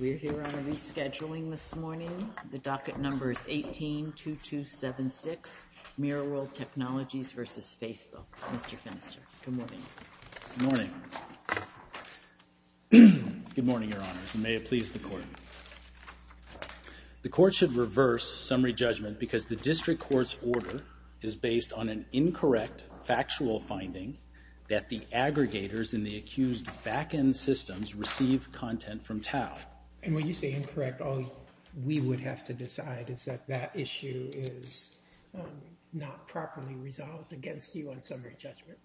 We're here on a rescheduling this morning. The docket number is 18-2276, Mirror World Technologies v. Facebook. Mr. Finister, good morning. Good morning. Good morning, Your Honors, and may it please the Court. The Court should reverse summary judgment because the District Court's order is based on an incorrect factual finding that the aggregators in the accused backend systems receive content from Tau. And when you say incorrect, all we would have to decide is that that issue is not properly resolved against you on summary judgment.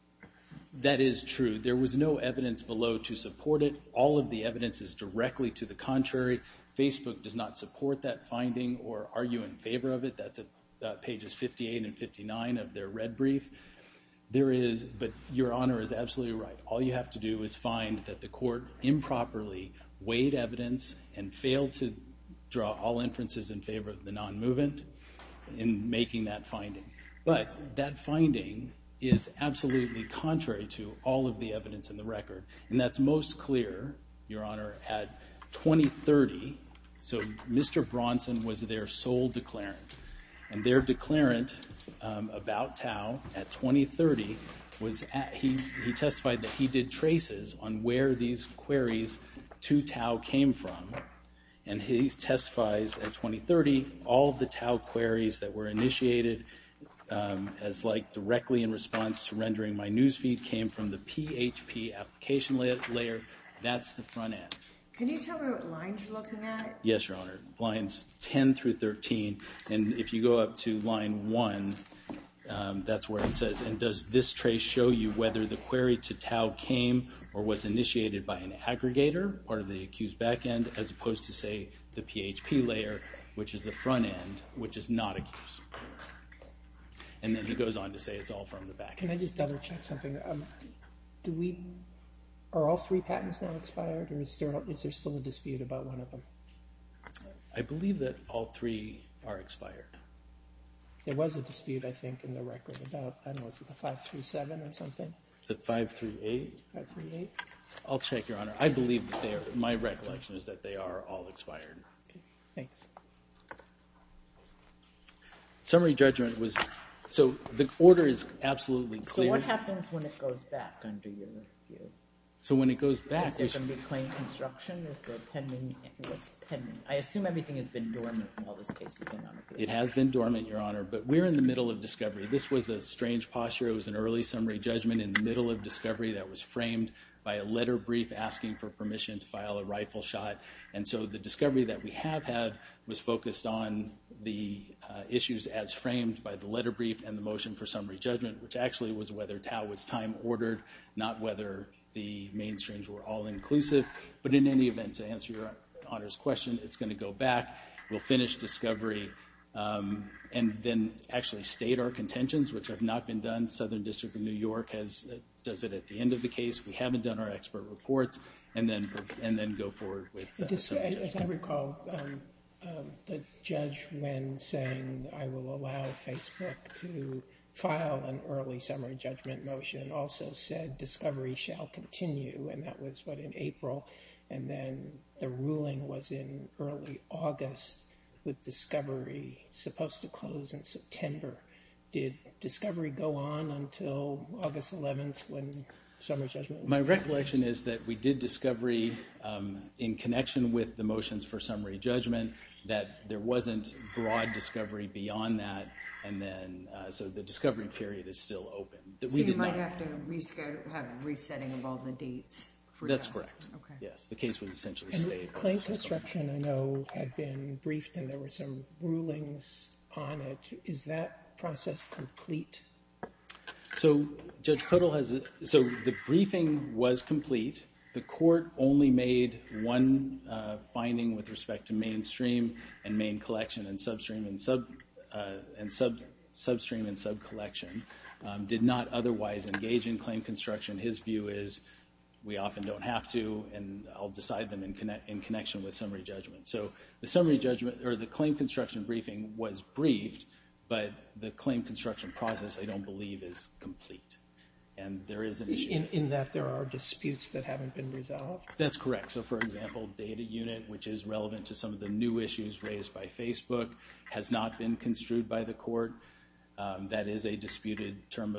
That is true. There was no evidence below to support it. All of the evidence is directly to the contrary. Facebook does not support that finding or argue in favor of it. That's at pages 58 and 59 of their red brief. There is, but Your Honor is absolutely right. All you have to do is find that the Court improperly weighed evidence and failed to draw all inferences in favor of the non-movement in making that finding. But that finding is absolutely contrary to all of the evidence in the record. And that's most clear, Your Honor, at 2030. So Mr. Bronson was their sole declarant. And their declarant about Tau at 2030, he testified that he did traces on where these queries to Tau came from. And he testifies at 2030, all of the Tau queries that were initiated as like directly in response to rendering my news feed came from the PHP application layer. That's the front end. Can you tell me what lines you're looking at? Yes, Your Honor. Lines 10 through 13. And if you go up to line 1, that's where it says. And does this trace show you whether the query to Tau came or was initiated by an aggregator, part of the accused back end, as opposed to, say, the PHP layer, which is the front end, which is not accused? And then he goes on to say it's all from the back end. Can I just double check something? Are all three patents now expired, or is there still a dispute about one of them? There was a dispute, I think, in the record about, I don't know, was it the 5 through 7 or something? The 5 through 8? 5 through 8. I'll check, Your Honor. I believe that they are, my recollection is that they are all expired. Thanks. Summary judgment was, so the order is absolutely clear. So what happens when it goes back under your review? So when it goes back. Is there going to be plain construction? Is there pending, what's pending? I assume everything has been dormant in all those cases. It has been dormant, Your Honor. But we're in the middle of discovery. This was a strange posture. It was an early summary judgment in the middle of discovery that was framed by a letter brief asking for permission to file a rifle shot. And so the discovery that we have had was focused on the issues as framed by the letter brief and the motion for summary judgment, which actually was whether Tau was time-ordered, not whether the mainstreams were all-inclusive. But in any event, to answer Your Honor's question, it's going to go back. We'll finish discovery and then actually state our contentions, which have not been done. Southern District of New York does it at the end of the case. We haven't done our expert reports and then go forward with summary judgment. As I recall, the judge, when saying I will allow Facebook to file an early summary judgment motion, also said discovery shall continue, and that was, what, in April. And then the ruling was in early August with discovery supposed to close in September. Did discovery go on until August 11th when summary judgment was decided? My recollection is that we did discovery in connection with the motions for summary judgment, that there wasn't broad discovery beyond that, and then so the discovery period is still open. So you might have to have a resetting of all the dates for that? That's correct, yes. The case was essentially stated. And the claim construction, I know, had been briefed and there were some rulings on it. Is that process complete? So Judge Kuttel has it. So the briefing was complete. The court only made one finding with respect to mainstream and main collection and substream and subcollection, did not otherwise engage in claim construction. His view is we often don't have to, and I'll decide them in connection with summary judgment. So the claim construction briefing was briefed, but the claim construction process, I don't believe, is complete. And there is an issue. In that there are disputes that haven't been resolved? That's correct. So, for example, data unit, which is relevant to some of the new issues raised by Facebook, has not been construed by the court. That is a disputed term.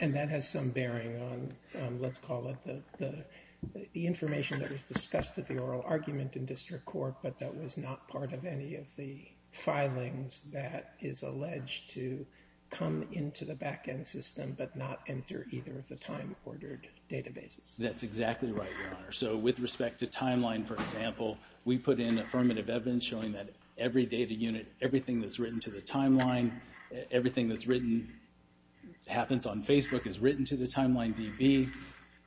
And that has some bearing on, let's call it the information that was discussed at the oral argument in district court, but that was not part of any of the filings that is alleged to come into the back-end system but not enter either of the time-ordered databases. That's exactly right, Your Honor. So with respect to timeline, for example, we put in affirmative evidence showing that every data unit, everything that's written to the timeline, everything that happens on Facebook is written to the timeline DB.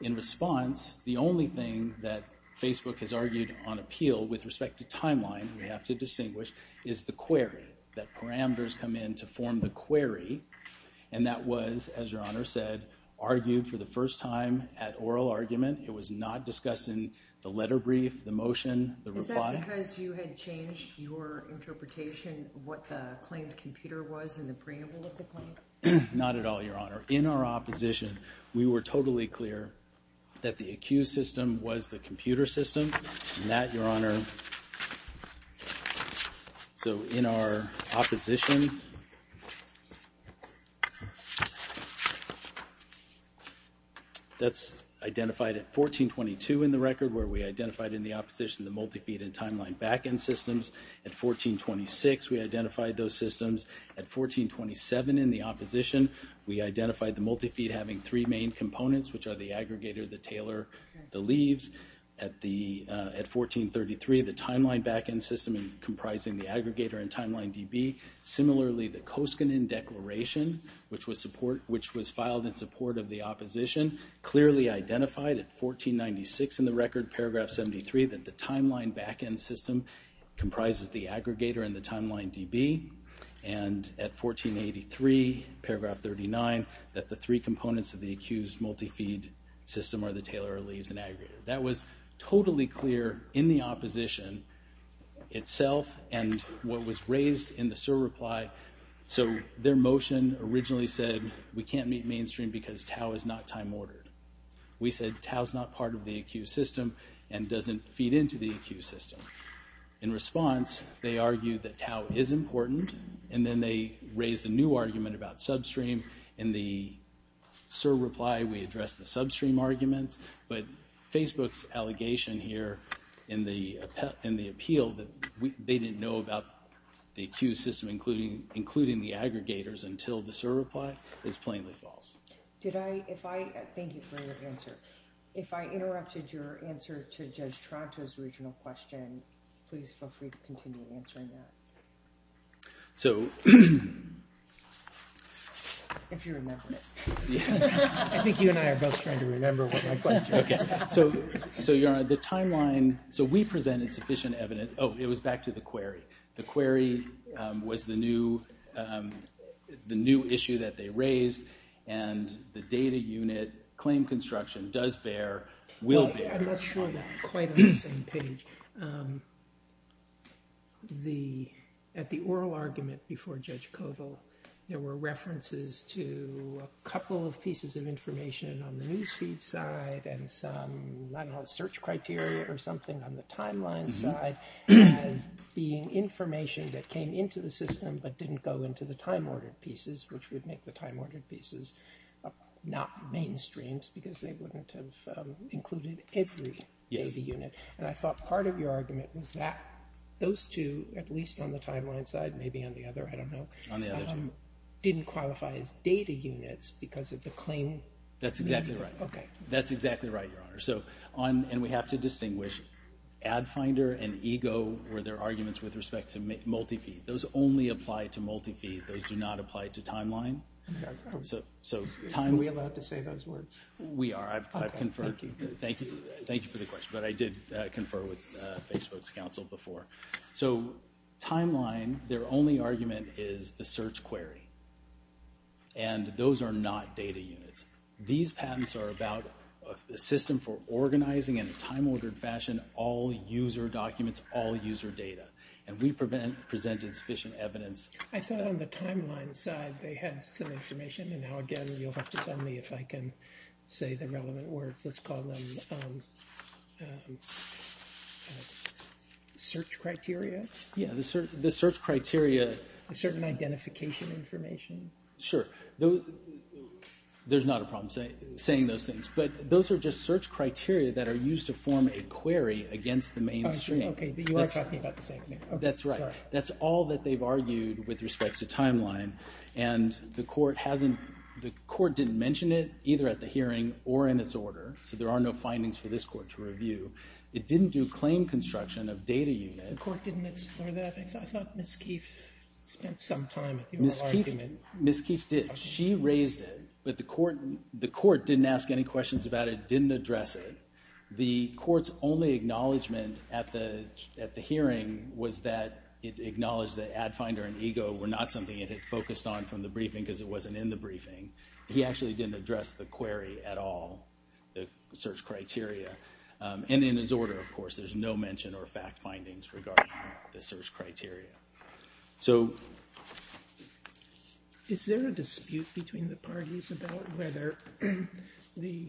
In response, the only thing that Facebook has argued on appeal with respect to timeline, we have to distinguish, is the query, that parameters come in to form the query. And that was, as Your Honor said, argued for the first time at oral argument. It was not discussed in the letter brief, the motion, the reply. Is that because you had changed your interpretation of what the claimed computer was in the preamble of the claim? Not at all, Your Honor. In our opposition, we were totally clear that the accused system was the computer system. And that, Your Honor, so in our opposition, that's identified at 1422 in the record where we identified in the opposition the multi-feed and timeline back-end systems. At 1426, we identified those systems. At 1427 in the opposition, we identified the multi-feed having three main components, which are the aggregator, the tailor, the leaves. At 1433, the timeline back-end system comprising the aggregator and timeline DB. Similarly, the Koskinen Declaration, which was filed in support of the opposition, clearly identified at 1496 in the record, paragraph 73, that the timeline back-end system comprises the aggregator and the timeline DB. And at 1483, paragraph 39, that the three components of the accused multi-feed system are the tailor, leaves, and aggregator. That was totally clear in the opposition itself and what was raised in the SIR reply. So their motion originally said we can't meet mainstream because tau is not time-ordered. We said tau is not part of the accused system and doesn't feed into the accused system. In response, they argued that tau is important, and then they raised a new argument about substream. In the SIR reply, we addressed the substream arguments, but Facebook's allegation here in the appeal that they didn't know about the accused system, including the aggregators, until the SIR reply, is plainly false. Thank you for your answer. If I interrupted your answer to Judge Tronto's original question, please feel free to continue answering that. If you remember it. I think you and I are both trying to remember what my question was. So, Your Honor, the timeline, so we presented sufficient evidence. Oh, it was back to the query. The query was the new issue that they raised, and the data unit claim construction does bear, will bear. I'm not sure that quite on the same page. At the oral argument before Judge Koval, there were references to a couple of pieces of information on the newsfeed side and some, I don't know, search criteria or something on the timeline side as being information that came into the system but didn't go into the time-ordered pieces, which would make the time-ordered pieces not mainstream because they wouldn't have included every data unit. And I thought part of your argument was that those two, at least on the timeline side, maybe on the other, I don't know, didn't qualify as data units because of the claim. That's exactly right. Okay. That's exactly right, Your Honor. And we have to distinguish AdFinder and Ego were their arguments with respect to multi-feed. Those only apply to multi-feed. Those do not apply to timeline. Are we allowed to say those words? We are. Thank you. Thank you for the question, but I did confer with Facebook's counsel before. So timeline, their only argument is the search query, and those are not data units. These patents are about a system for organizing in a time-ordered fashion all user documents, all user data, and we present insufficient evidence. I thought on the timeline side they had some information, and now again you'll have to tell me if I can say the relevant words. Let's call them search criteria. Yeah, the search criteria. Certain identification information. Sure. There's not a problem saying those things, but those are just search criteria that are used to form a query against the mainstream. Okay, but you are talking about the same thing. That's right. That's all that they've argued with respect to timeline, and the court didn't mention it either at the hearing or in its order, so there are no findings for this court to review. It didn't do claim construction of data units. The court didn't explore that. I thought Ms. Keefe spent some time in her argument. Ms. Keefe did. She raised it, but the court didn't ask any questions about it, didn't address it. The court's only acknowledgment at the hearing was that it acknowledged that Ad Finder and EGO were not something it had focused on from the briefing because it wasn't in the briefing. He actually didn't address the query at all, the search criteria, and in his order, of course. There's no mention or fact findings regarding the search criteria. So... Is there a dispute between the parties about whether the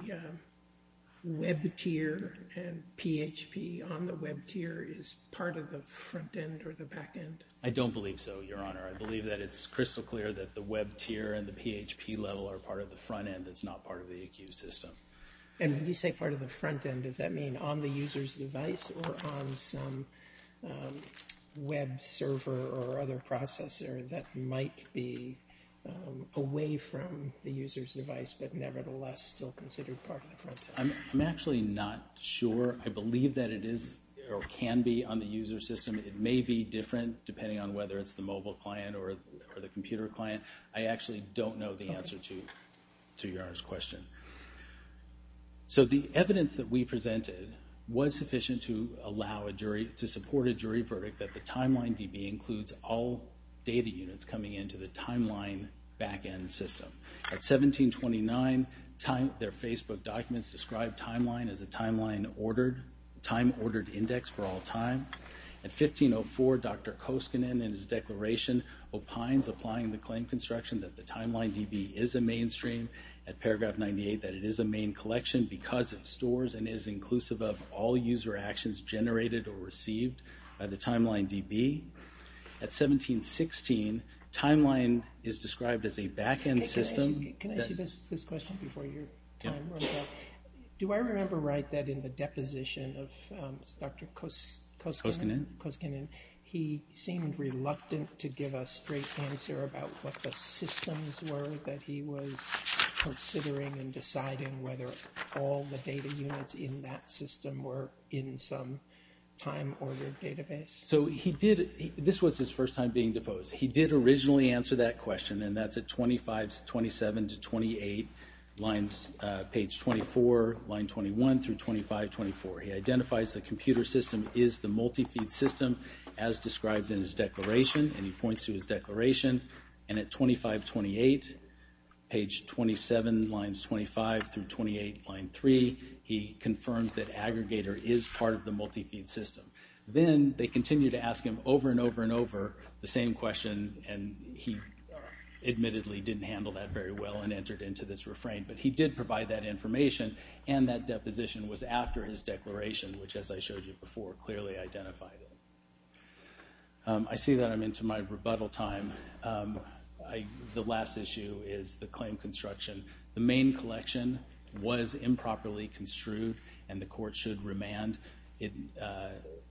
web tier and PHP on the web tier is part of the front end or the back end? I don't believe so, Your Honor. I believe that it's crystal clear that the web tier and the PHP level are part of the front end. It's not part of the EQ system. And when you say part of the front end, does that mean on the user's device or on some web server or other processor that might be away from the user's device but nevertheless still considered part of the front end? I'm actually not sure. I believe that it is or can be on the user system. It may be different, depending on whether it's the mobile client or the computer client. I actually don't know the answer to Your Honor's question. So the evidence that we presented was sufficient to support a jury verdict that the TimelineDB includes all data units coming into the Timeline back end system. At 1729, their Facebook documents described Timeline as a time-ordered index for all time. At 1504, Dr. Koskinen in his declaration opines applying the claim construction that the TimelineDB is a mainstream. At paragraph 98, that it is a main collection because it stores and is inclusive of all user actions generated or received by the TimelineDB. At 1716, Timeline is described as a back end system. Can I ask you this question before your time runs out? Do I remember right that in the deposition of Dr. Koskinen, he seemed reluctant to give a straight answer about what the systems were that he was considering in deciding whether all the data units in that system were in some time-ordered database? So he did, this was his first time being deposed. He did originally answer that question, and that's at 2527 to 28, lines, page 24, line 21 through 2524. He identifies the computer system is the multi-feed system as described in his declaration, and he points to his declaration. And at 2528, page 27, lines 25 through 28, line 3, he confirms that aggregator is part of the multi-feed system. Then they continue to ask him over and over and over the same question, and he admittedly didn't handle that very well and entered into this refrain. But he did provide that information, and that deposition was after his declaration, which, as I showed you before, clearly identified it. I see that I'm into my rebuttal time. The last issue is the claim construction. The main collection was improperly construed, and the court should remand.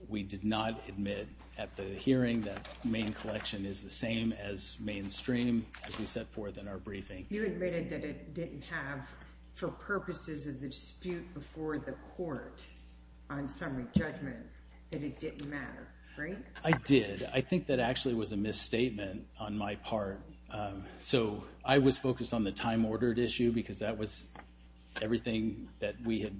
We did not admit at the hearing that the main collection is the same as mainstream, as we set forth in our briefing. You admitted that it didn't have, for purposes of the dispute before the court on summary judgment, that it didn't matter, right? I did. I think that actually was a misstatement on my part. So I was focused on the time-ordered issue because that was everything that we had.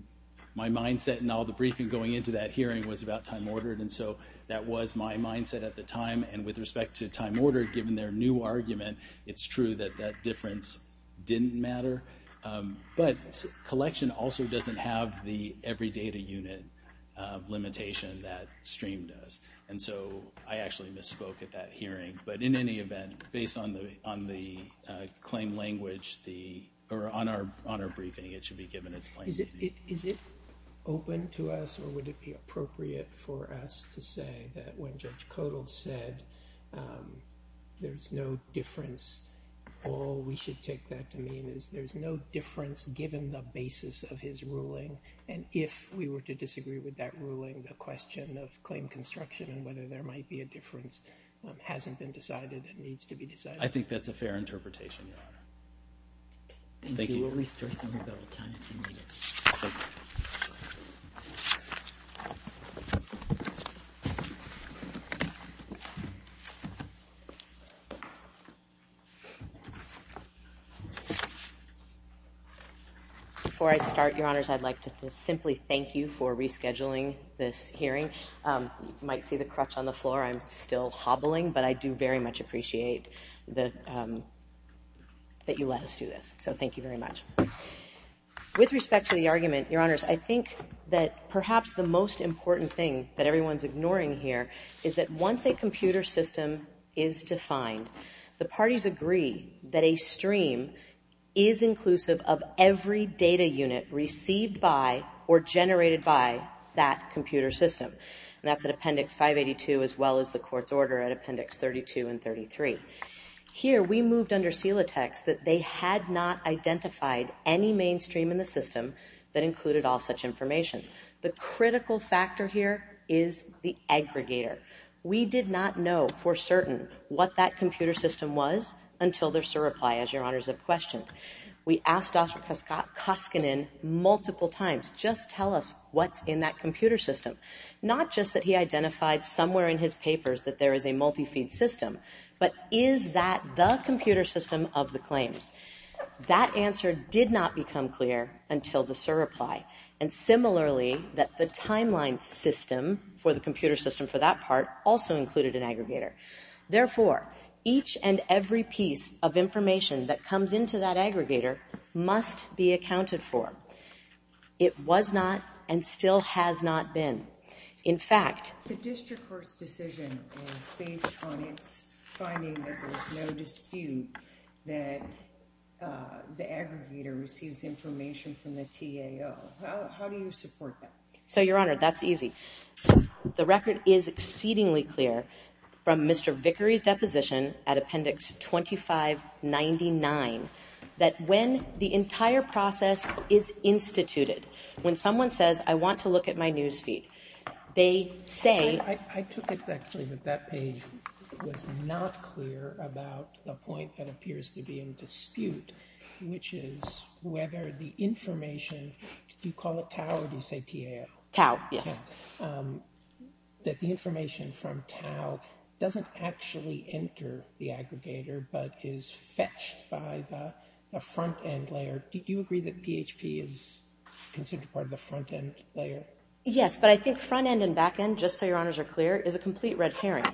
My mindset in all the briefing going into that hearing was about time-ordered, and so that was my mindset at the time. And with respect to time-ordered, given their new argument, it's true that that difference didn't matter. But collection also doesn't have the every data unit limitation that streamed us. And so I actually misspoke at that hearing. But in any event, based on the claim language, or on our briefing, it should be given its place. Is it open to us, or would it be appropriate for us to say that when Judge Codall said there's no difference, all we should take that to mean is there's no difference given the basis of his ruling. And if we were to disagree with that ruling, the question of claim construction and whether there might be a difference hasn't been decided and needs to be decided. I think that's a fair interpretation, Your Honor. Thank you. Thank you. We'll restore some of that on time if you need it. Before I start, Your Honors, I'd like to simply thank you for rescheduling this hearing. You might see the crutch on the floor. I'm still hobbling. But I do very much appreciate that you let us do this. So thank you very much. With respect to the argument, Your Honors, I think that perhaps the most important thing that everyone's ignoring here is that once a computer system is defined, the parties agree that a stream is inclusive of every data unit received by or generated by that computer system. And that's at Appendix 582 as well as the court's order at Appendix 32 and 33. Here, we moved under CELA text that they had not identified any mainstream in the system that included all such information. The critical factor here is the aggregator. We did not know for certain what that computer system was until their SIR reply, as Your Honors have questioned. We asked Dr. Koskinen multiple times, just tell us what's in that computer system. Not just that he identified somewhere in his papers that there is a multi-feed system, but is that the computer system of the claims? That answer did not become clear until the SIR reply. And similarly, that the timeline system for the computer system for that part also included an aggregator. Therefore, each and every piece of information that comes into that aggregator must be accounted for. It was not and still has not been. In fact... The district court's decision is based on its finding that there's no dispute that the aggregator receives information from the TAO. How do you support that? So, Your Honor, that's easy. The record is exceedingly clear from Mr. Vickery's deposition at Appendix 2599 that when the entire process is instituted, when someone says, I want to look at my newsfeed, they say... I took it actually that that page was not clear about the point that appears to be in dispute, which is whether the information, do you call it TAO or do you say TAO? TAO, yes. That the information from TAO doesn't actually enter the aggregator but is fetched by the front-end layer. Do you agree that PHP is considered part of the front-end layer? Yes, but I think front-end and back-end, just so Your Honors are clear, is a complete red herring.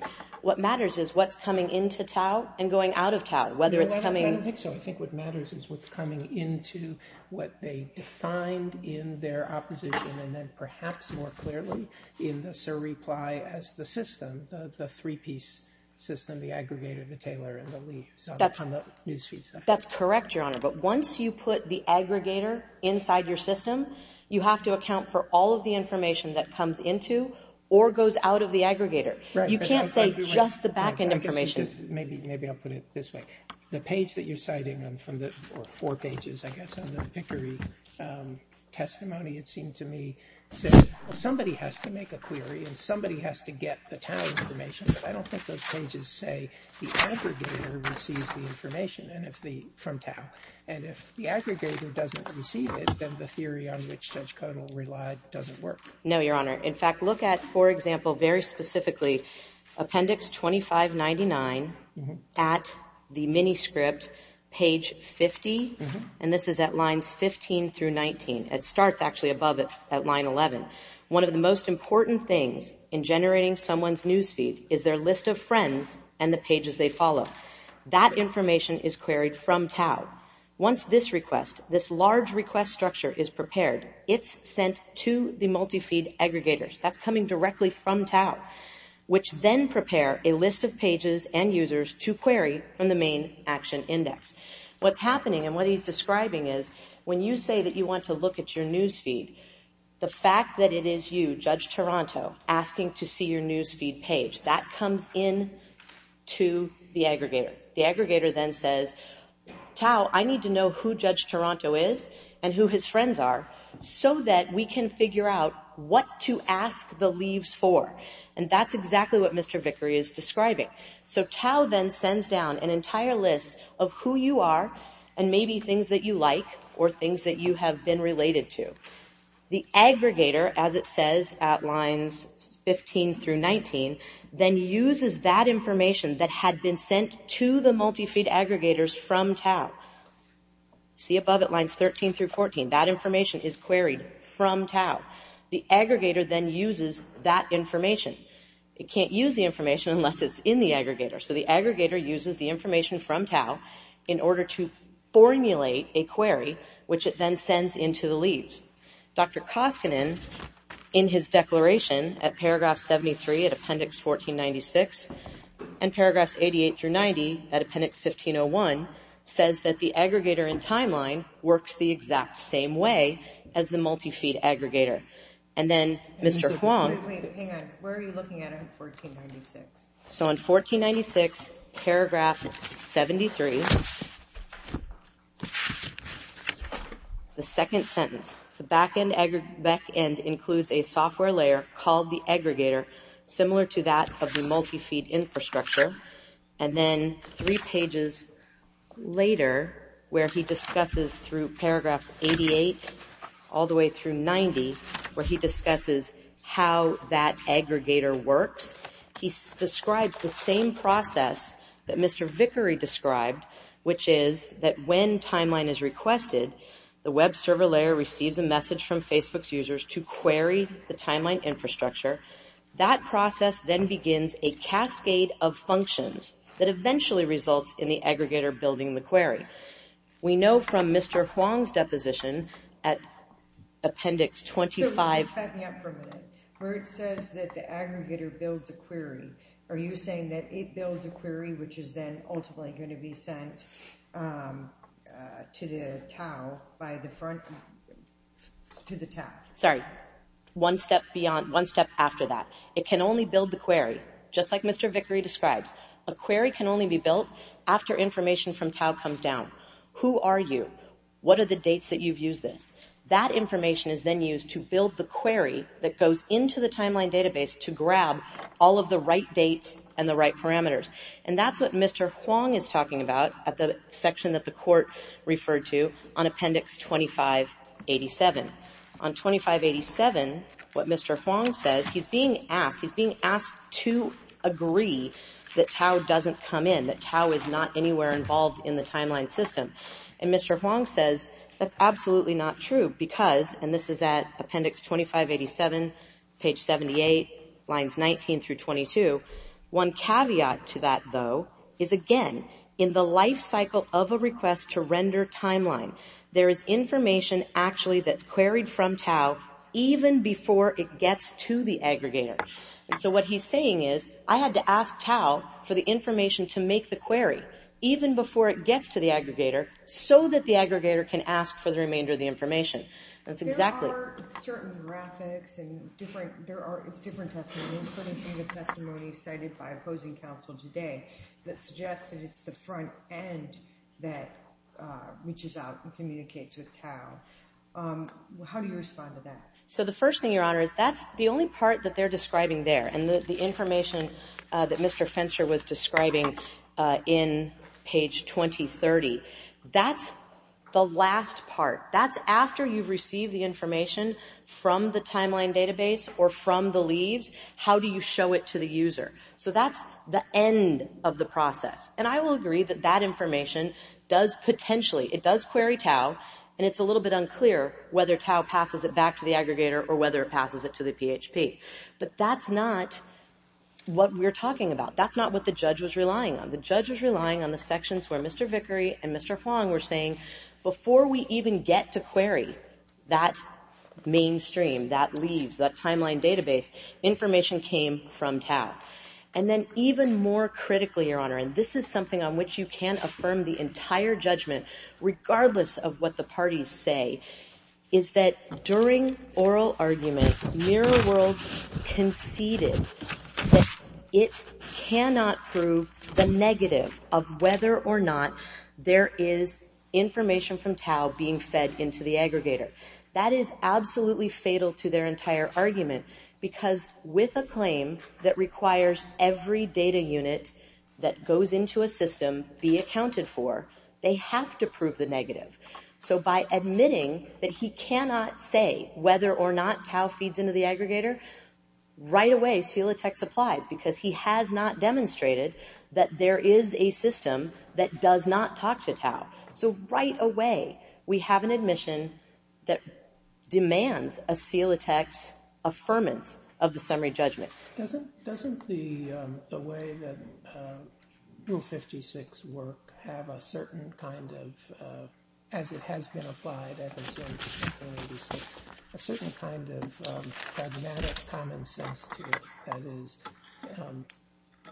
What matters is what's coming into TAO and going out of TAO, whether it's coming... No, I don't think so. I think what matters is what's coming into what they defined in their opposition and then perhaps more clearly in the surreply as the system, the three-piece system, the aggregator, the tailor, and the leaves on the newsfeed side. That's correct, Your Honor, but once you put the aggregator inside your system, you have to account for all of the information that comes into or goes out of the aggregator. You can't say just the back-end information. Maybe I'll put it this way. The page that you're citing, or four pages, I guess, in the Pickering testimony, it seemed to me, said somebody has to make a query and somebody has to get the TAO information, but I don't think those pages say the aggregator receives the information from TAO, and if the aggregator doesn't receive it, then the theory on which Judge Codall relied doesn't work. No, Your Honor. In fact, look at, for example, very specifically, Appendix 2599 at the miniscript, page 50, and this is at lines 15 through 19. It starts, actually, above it at line 11. One of the most important things in generating someone's newsfeed is their list of friends and the pages they follow. That information is queried from TAO. Once this request, this large request structure, is prepared, it's sent to the multi-feed aggregators. That's coming directly from TAO, which then prepare a list of pages and users to query from the main action index. What's happening, and what he's describing, is when you say that you want to look at your newsfeed, the fact that it is you, Judge Taranto, asking to see your newsfeed page, that comes in to the aggregator. The aggregator then says, TAO, I need to know who Judge Taranto is and who his friends are so that we can figure out what to ask the leaves for, and that's exactly what Mr. Vickery is describing. So TAO then sends down an entire list of who you are and maybe things that you like or things that you have been related to. The aggregator, as it says at lines 15 through 19, then uses that information that had been sent to the multi-feed aggregators from TAO. See above it, lines 13 through 14, that information is queried from TAO. The aggregator then uses that information. It can't use the information unless it's in the aggregator. So the aggregator uses the information from TAO in order to formulate a query, which it then sends in to the leaves. Dr. Koskinen, in his declaration, at paragraph 73 at appendix 1496 and paragraphs 88 through 90 at appendix 1501, says that the aggregator in timeline works the exact same way as the multi-feed aggregator. And then Mr. Huang... Hang on, where are you looking at in 1496? So in 1496, paragraph 73, the second sentence, the back end includes a software layer called the aggregator, similar to that of the multi-feed infrastructure. And then three pages later, where he discusses through paragraphs 88 all the way through 90, where he discusses how that aggregator works, he describes the same process that Mr. Vickery described, which is that when timeline is requested, the web server layer receives a message from Facebook's users to query the timeline infrastructure. That process then begins a cascade of functions that eventually results in the aggregator building the query. We know from Mr. Huang's deposition at appendix 25... So just back me up for a minute. Where it says that the aggregator builds a query, are you saying that it builds a query which is then ultimately going to be sent to the TAO by the front... to the TAO? Sorry. One step after that. It can only build the query, just like Mr. Vickery describes. A query can only be built after information from TAO comes down. Who are you? What are the dates that you've used this? That information is then used to build the query that goes into the timeline database to grab all of the right dates and the right parameters. And that's what Mr. Huang is talking about at the section that the court referred to on appendix 2587. On 2587, what Mr. Huang says, he's being asked to agree that TAO doesn't come in, that TAO is not anywhere involved in the timeline system. And Mr. Huang says, that's absolutely not true because, and this is at appendix 2587, page 78, lines 19 through 22, one caveat to that, though, is again, in the life cycle of a request to render timeline, there is information actually that's queried from TAO even before it gets to the aggregator. So what he's saying is, I had to ask TAO for the information to make the query even before it gets to the aggregator so that the aggregator can ask for the remainder of the information. That's exactly... There are certain graphics and different, it's different testimony, including some of the testimony cited by opposing counsel today that suggests that it's the front end that reaches out and communicates with TAO. How do you respond to that? So the first thing, Your Honor, is that's the only part that they're describing there. And the information that Mr. Fenster was describing in page 2030, that's the last part. That's after you've received the information from the timeline database or from the leaves. How do you show it to the user? So that's the end of the process. And I will agree that that information does potentially, it does query TAO, and it's a little bit unclear whether TAO passes it back to the aggregator or whether it passes it to the PHP. But that's not what we're talking about. That's not what the judge was relying on. The judge was relying on the sections where Mr. Vickery and Mr. Fong were saying, before we even get to query that mainstream, that leaves, that timeline database, information came from TAO. And then even more critically, Your Honor, and this is something on which you can't affirm the entire judgment, regardless of what the parties say, is that during oral argument, Mirror World conceded that it cannot prove the negative of whether or not there is information from TAO being fed into the aggregator. That is absolutely fatal to their entire argument because with a claim that requires every data unit that goes into a system be accounted for, they have to prove the negative. So by admitting that he cannot say whether or not TAO feeds into the aggregator, right away, CELATEX applies because he has not demonstrated that there is a system that does not talk to TAO. So right away, we have an admission that demands a CELATEX affirmance of the summary judgment. Doesn't the way that Rule 56 work have a certain kind of, as it has been applied ever since, a certain kind of pragmatic common sense to it? That is,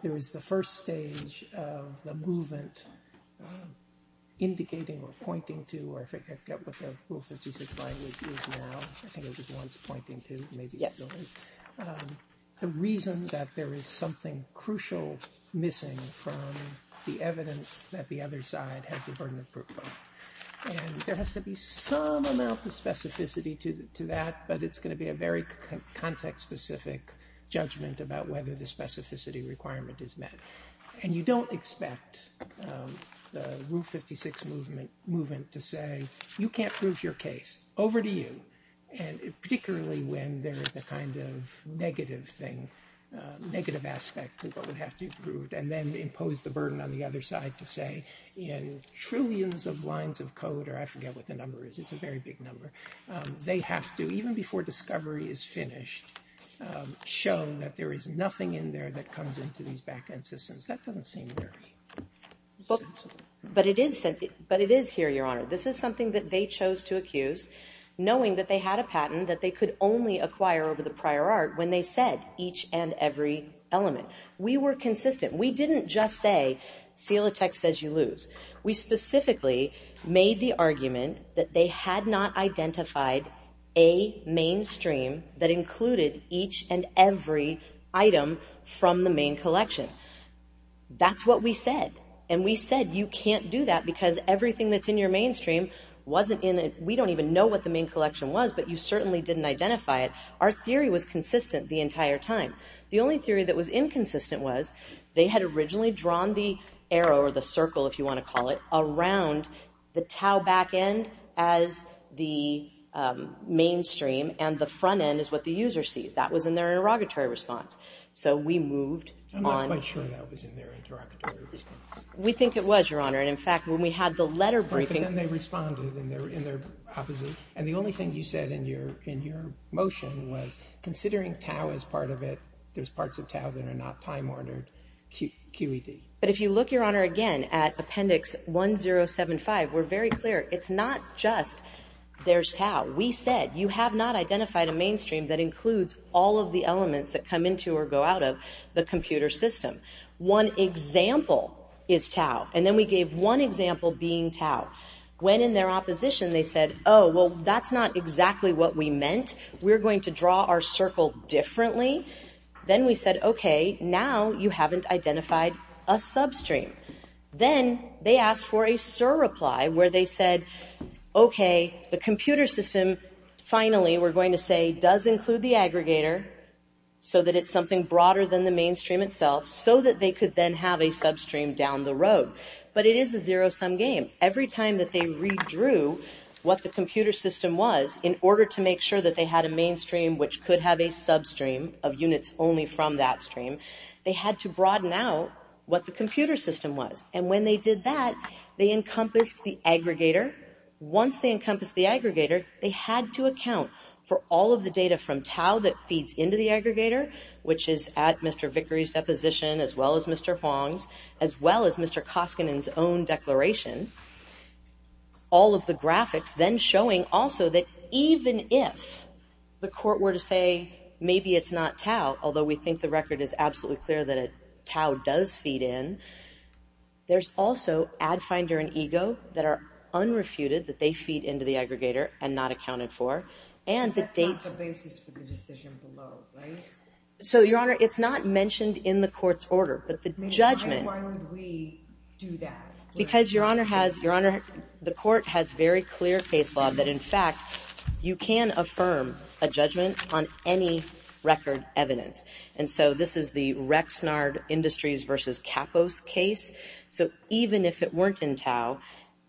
there is the first stage of the movement indicating or pointing to, or if I get what the Rule 56 language is now, I think it was once pointing to, maybe it still is, the reason that there is something crucial missing from the evidence that the other side has the burden of proof of. And there has to be some amount of specificity to that, but it's going to be a very context-specific judgment about whether the specificity requirement is met. And you don't expect the Rule 56 movement to say, you can't prove your case, over to you, particularly when there is a kind of negative thing, negative aspect to what would have to be proved, and then impose the burden on the other side to say in trillions of lines of code, or I forget what the number is, it's a very big number, they have to, even before discovery is finished, show that there is nothing in there that comes into these back-end systems. That doesn't seem very sensible. But it is here, Your Honor. This is something that they chose to accuse, knowing that they had a patent that they could only acquire over the prior art when they said each and every element. We were consistent. We didn't just say, Silatech says you lose. We specifically made the argument that they had not identified a mainstream that included each and every item from the main collection. That's what we said. And we said, you can't do that because everything that's in your mainstream we don't even know what the main collection was, but you certainly didn't identify it. Our theory was consistent the entire time. The only theory that was inconsistent was they had originally drawn the arrow, or the circle if you want to call it, around the Tau back-end as the mainstream and the front-end as what the user sees. That was in their interrogatory response. So we moved on... I'm not quite sure that was in their interrogatory response. We think it was, Your Honor. And in fact, when we had the letter briefing... But then they responded and they were in their opposite... And the only thing you said in your motion was considering Tau as part of it, that there's parts of Tau that are not time-ordered QED. But if you look, Your Honor, again at Appendix 1075, we're very clear. It's not just, there's Tau. We said, you have not identified a mainstream that includes all of the elements that come into or go out of the computer system. One example is Tau. And then we gave one example being Tau. When in their opposition they said, oh, well, that's not exactly what we meant. We're going to draw our circle differently. Then we said, okay, now you haven't identified a substream. Then they asked for a surreply where they said, okay, the computer system finally, we're going to say, does include the aggregator so that it's something broader than the mainstream itself so that they could then have a substream down the road. But it is a zero-sum game. Every time that they redrew what the computer system was in order to make sure that they had a mainstream which could have a substream of units only from that stream, they had to broaden out what the computer system was. And when they did that, they encompassed the aggregator. Once they encompassed the aggregator, they had to account for all of the data from Tau that feeds into the aggregator, which is at Mr. Vickery's deposition, as well as Mr. Huang's, as well as Mr. Koskinen's own declaration, all of the graphics then showing also that even if the court were to say maybe it's not Tau, although we think the record is absolutely clear that Tau does feed in, there's also Ad Finder and Ego that are unrefuted, that they feed into the aggregator and not accounted for. And the dates... That's not the basis for the decision below, right? So, Your Honor, it's not mentioned in the court's order, but the judgment... Why would we do that? Because, Your Honor, the court has very clear case law that, in fact, you can affirm a judgment on any record evidence. And so this is the Rexnard Industries v. Kapos case. So even if it weren't in Tau,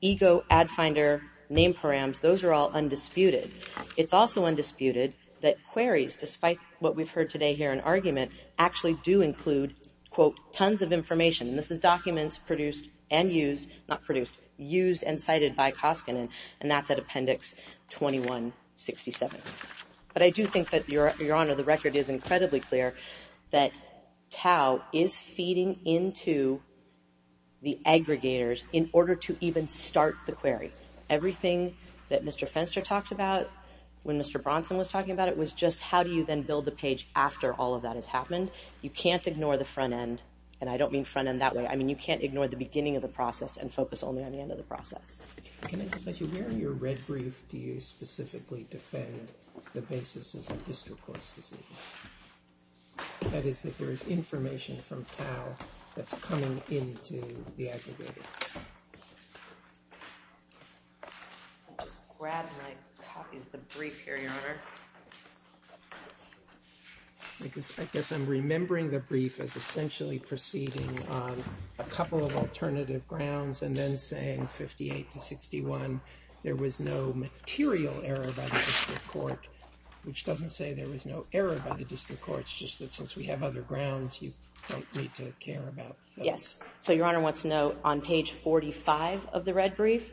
Ego, Ad Finder, Name Params, those are all undisputed. It's also undisputed that queries, despite what we've heard today here in argument, actually do include, quote, tons of information. And this is documents produced and used... Not produced, used and cited by Koskinen, and that's at Appendix 2167. But I do think that, Your Honor, the record is incredibly clear that Tau is feeding into the aggregators in order to even start the query. Everything that Mr. Fenster talked about when Mr. Bronson was talking about it was just how do you then build the page after all of that has happened. You can't ignore the front end, and I don't mean front end that way. I mean, you can't ignore the beginning of the process and focus only on the end of the process. Can I just ask you, where in your red brief do you specifically defend the basis of the district court's decision? That is, that there is information from Tau that's coming into the aggregator. I'll just grab my copies of the brief here, Your Honor. Because I guess I'm remembering the brief as essentially proceeding on a couple of alternative grounds and then saying 58 to 61, there was no material error by the district court, which doesn't say there was no error by the district court. It's just that since we have other grounds, you don't need to care about those. Yes, so Your Honor wants to know, on page 45 of the red brief,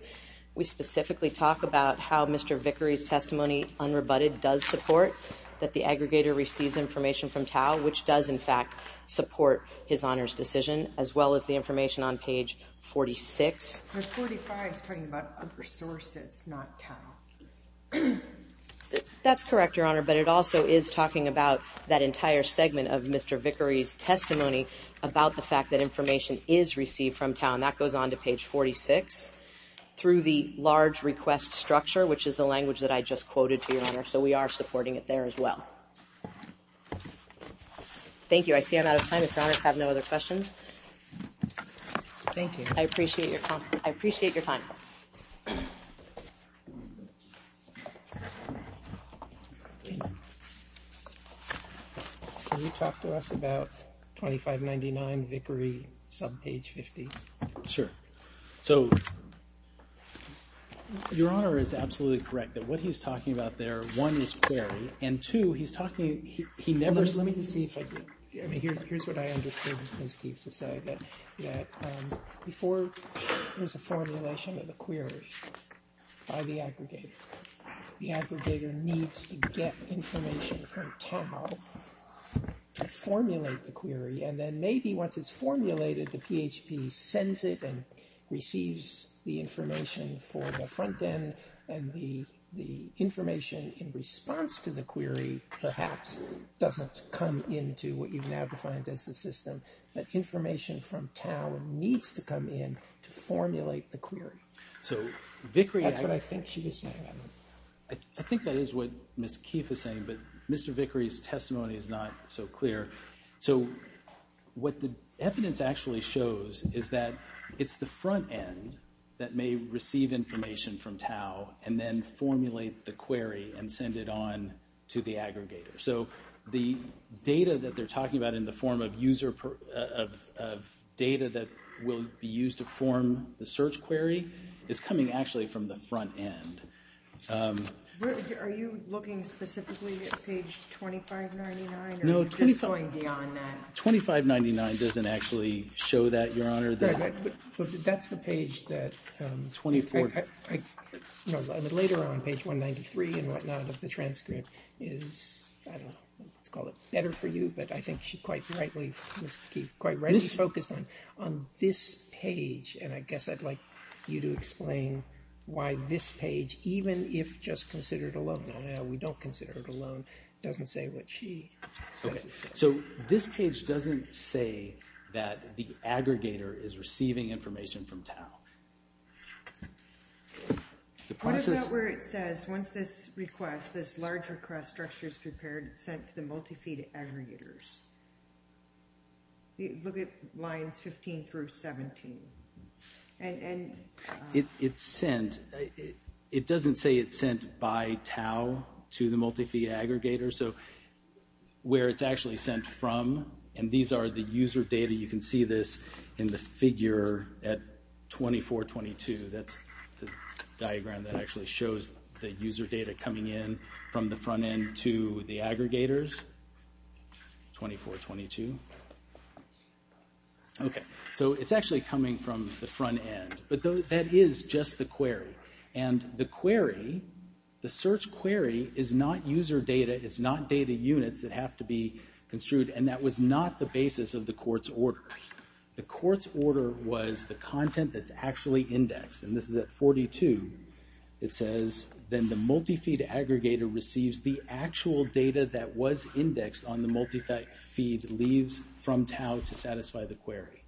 we specifically talk about how Mr. Vickery's testimony, unrebutted, does support that the aggregator receives information from Tau, which does, in fact, support his honor's decision, as well as the information on page 46. But 45's talking about other sources, not Tau. That's correct, Your Honor, but it also is talking about that entire segment of Mr. Vickery's testimony about the fact that information is received from Tau, and that goes on to page 46, through the large request structure, which is the language that I just quoted to you, Your Honor, so we are supporting it there as well. Thank you. I see I'm out of time. If Your Honor has no other questions. Thank you. I appreciate your time. Can you talk to us about 2599 Vickery, subpage 50? Sure. So, Your Honor is absolutely correct that what he's talking about there, one, is query, and two, he's talking, he never... Let me just see if I can... Here's what I understood Ms. Keefe to say, that before there's a formulation of a query by the aggregator, the aggregator needs to get information from Tau to formulate the query, and then maybe once it's formulated, the PHP sends it and receives the information for the front end, and the information in response to the query, perhaps, doesn't come into what you now define as the system, but information from Tau needs to come in to formulate the query. So, Vickery... That's what I think she was saying. I think that is what Ms. Keefe is saying, but Mr. Vickery's testimony is not so clear. So, what the evidence actually shows is that it's the front end that may receive information from Tau and then formulate the query and send it on to the aggregator. So, the data that they're talking about in the form of data that will be used to form the search query is coming actually from the front end. Are you looking specifically at page 2599? No, 2599 doesn't actually show that, Your Honor. But that's the page that... Later on, page 193 and whatnot of the transcript is, I don't know, let's call it better for you, but I think she quite rightly, Ms. Keefe, quite rightly focused on this page, and I guess I'd like you to explain why this page, even if just considered alone... No, no, we don't consider it alone. It doesn't say what she says it says. So, this page doesn't say that the aggregator is receiving information from Tau. What about where it says, once this request, once this large request structure is prepared, sent to the multi-feed aggregators? Look at lines 15 through 17. And... It's sent. It doesn't say it's sent by Tau to the multi-feed aggregator. So, where it's actually sent from, and these are the user data, you can see this in the figure at 2422. That's the diagram that actually shows the user data coming in from the front end to the aggregators. 2422. Okay, so it's actually coming from the front end, but that is just the query. And the query, the search query, is not user data, it's not data units that have to be construed, and that was not the basis of the court's order. The court's order was the content that's actually indexed, and this is at 42. It says, then the multi-feed aggregator receives the actual data that was indexed on the multi-feed leaves from Tau to satisfy the query.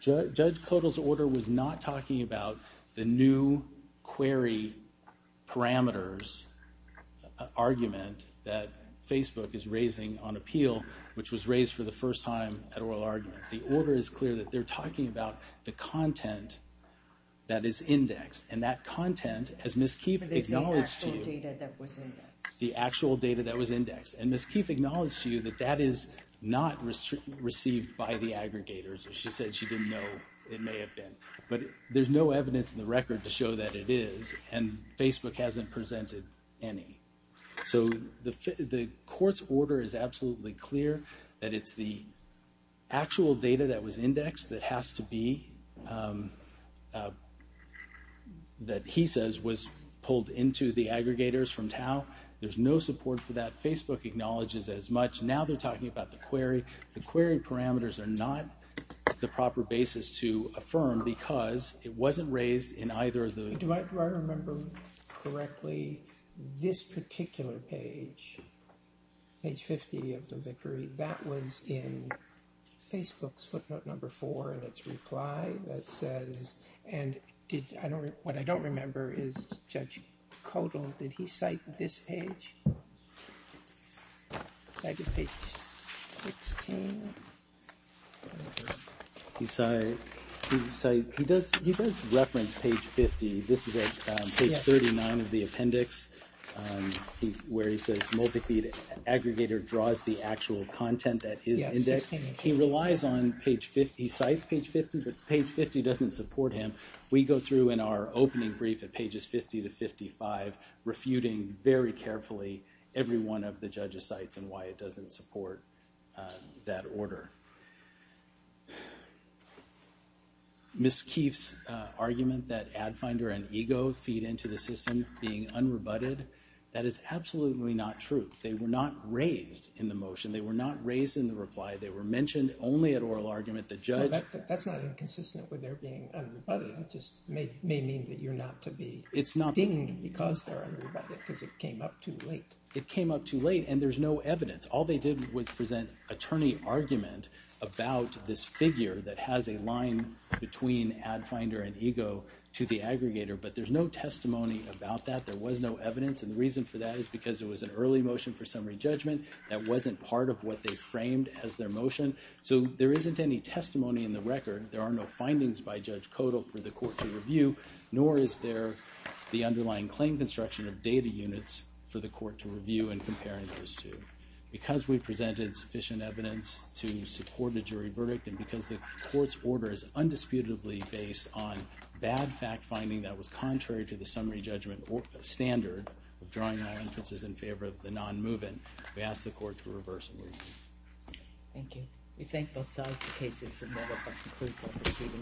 Judge Kodal's order was not talking about the new query parameters argument that Facebook is raising on appeal, which was raised for the first time at oral argument. The order is clear that they're talking about the content that is indexed, and that content, as Ms. Keefe acknowledged to you... But it's the actual data that was indexed. The actual data that was indexed. And Ms. Keefe acknowledged to you that that is not received by the aggregators. She said she didn't know it may have been. But there's no evidence in the record to show that it is, and Facebook hasn't presented any. So the court's order is absolutely clear that it's the actual data that was indexed that has to be... that he says was pulled into the aggregators from Tau. There's no support for that. Facebook acknowledges as much. Now they're talking about the query. The query parameters are not the proper basis to affirm because it wasn't raised in either of the... Do I remember correctly this particular page, page 50 of the victory, that was in Facebook's footnote number four in its reply that says... And what I don't remember is Judge Kodal, did he cite this page? Cited page 16? He does reference page 50. This is at page 39 of the appendix where he says multi-feed aggregator draws the actual content that is indexed. He relies on page 50, he cites page 50, but page 50 doesn't support him. We go through in our opening brief at pages 50 to 55 refuting very carefully every one of the judge's sites and why it doesn't support that order. Ms. Keefe's argument that Ad Finder and Ego feed into the system being unrebutted, that is absolutely not true. They were not raised in the motion. They were not raised in the reply. They were mentioned only at oral argument. The judge... That's not inconsistent with their being unrebutted. It just may mean that you're not to be... It's not... ...dinged because they're unrebutted because it came up too late. And there's no evidence. All they did was present attorney argument about this figure that has a line between Ad Finder and Ego to the aggregator, but there's no testimony about that. There was no evidence, and the reason for that is because it was an early motion for summary judgment that wasn't part of what they framed as their motion. So there isn't any testimony in the record. There are no findings by Judge Codal for the court to review, nor is there the underlying claim construction of data units for the court to review and comparing those two. Because we presented sufficient evidence to support a jury verdict, and because the court's order is undisputably based on bad fact-finding that was contrary to the summary judgment standard of drawing all entrances in favor of the non-moving, we ask the court to reverse the ruling. Thank you. We thank both sides for cases submitted that concludes our proceedings.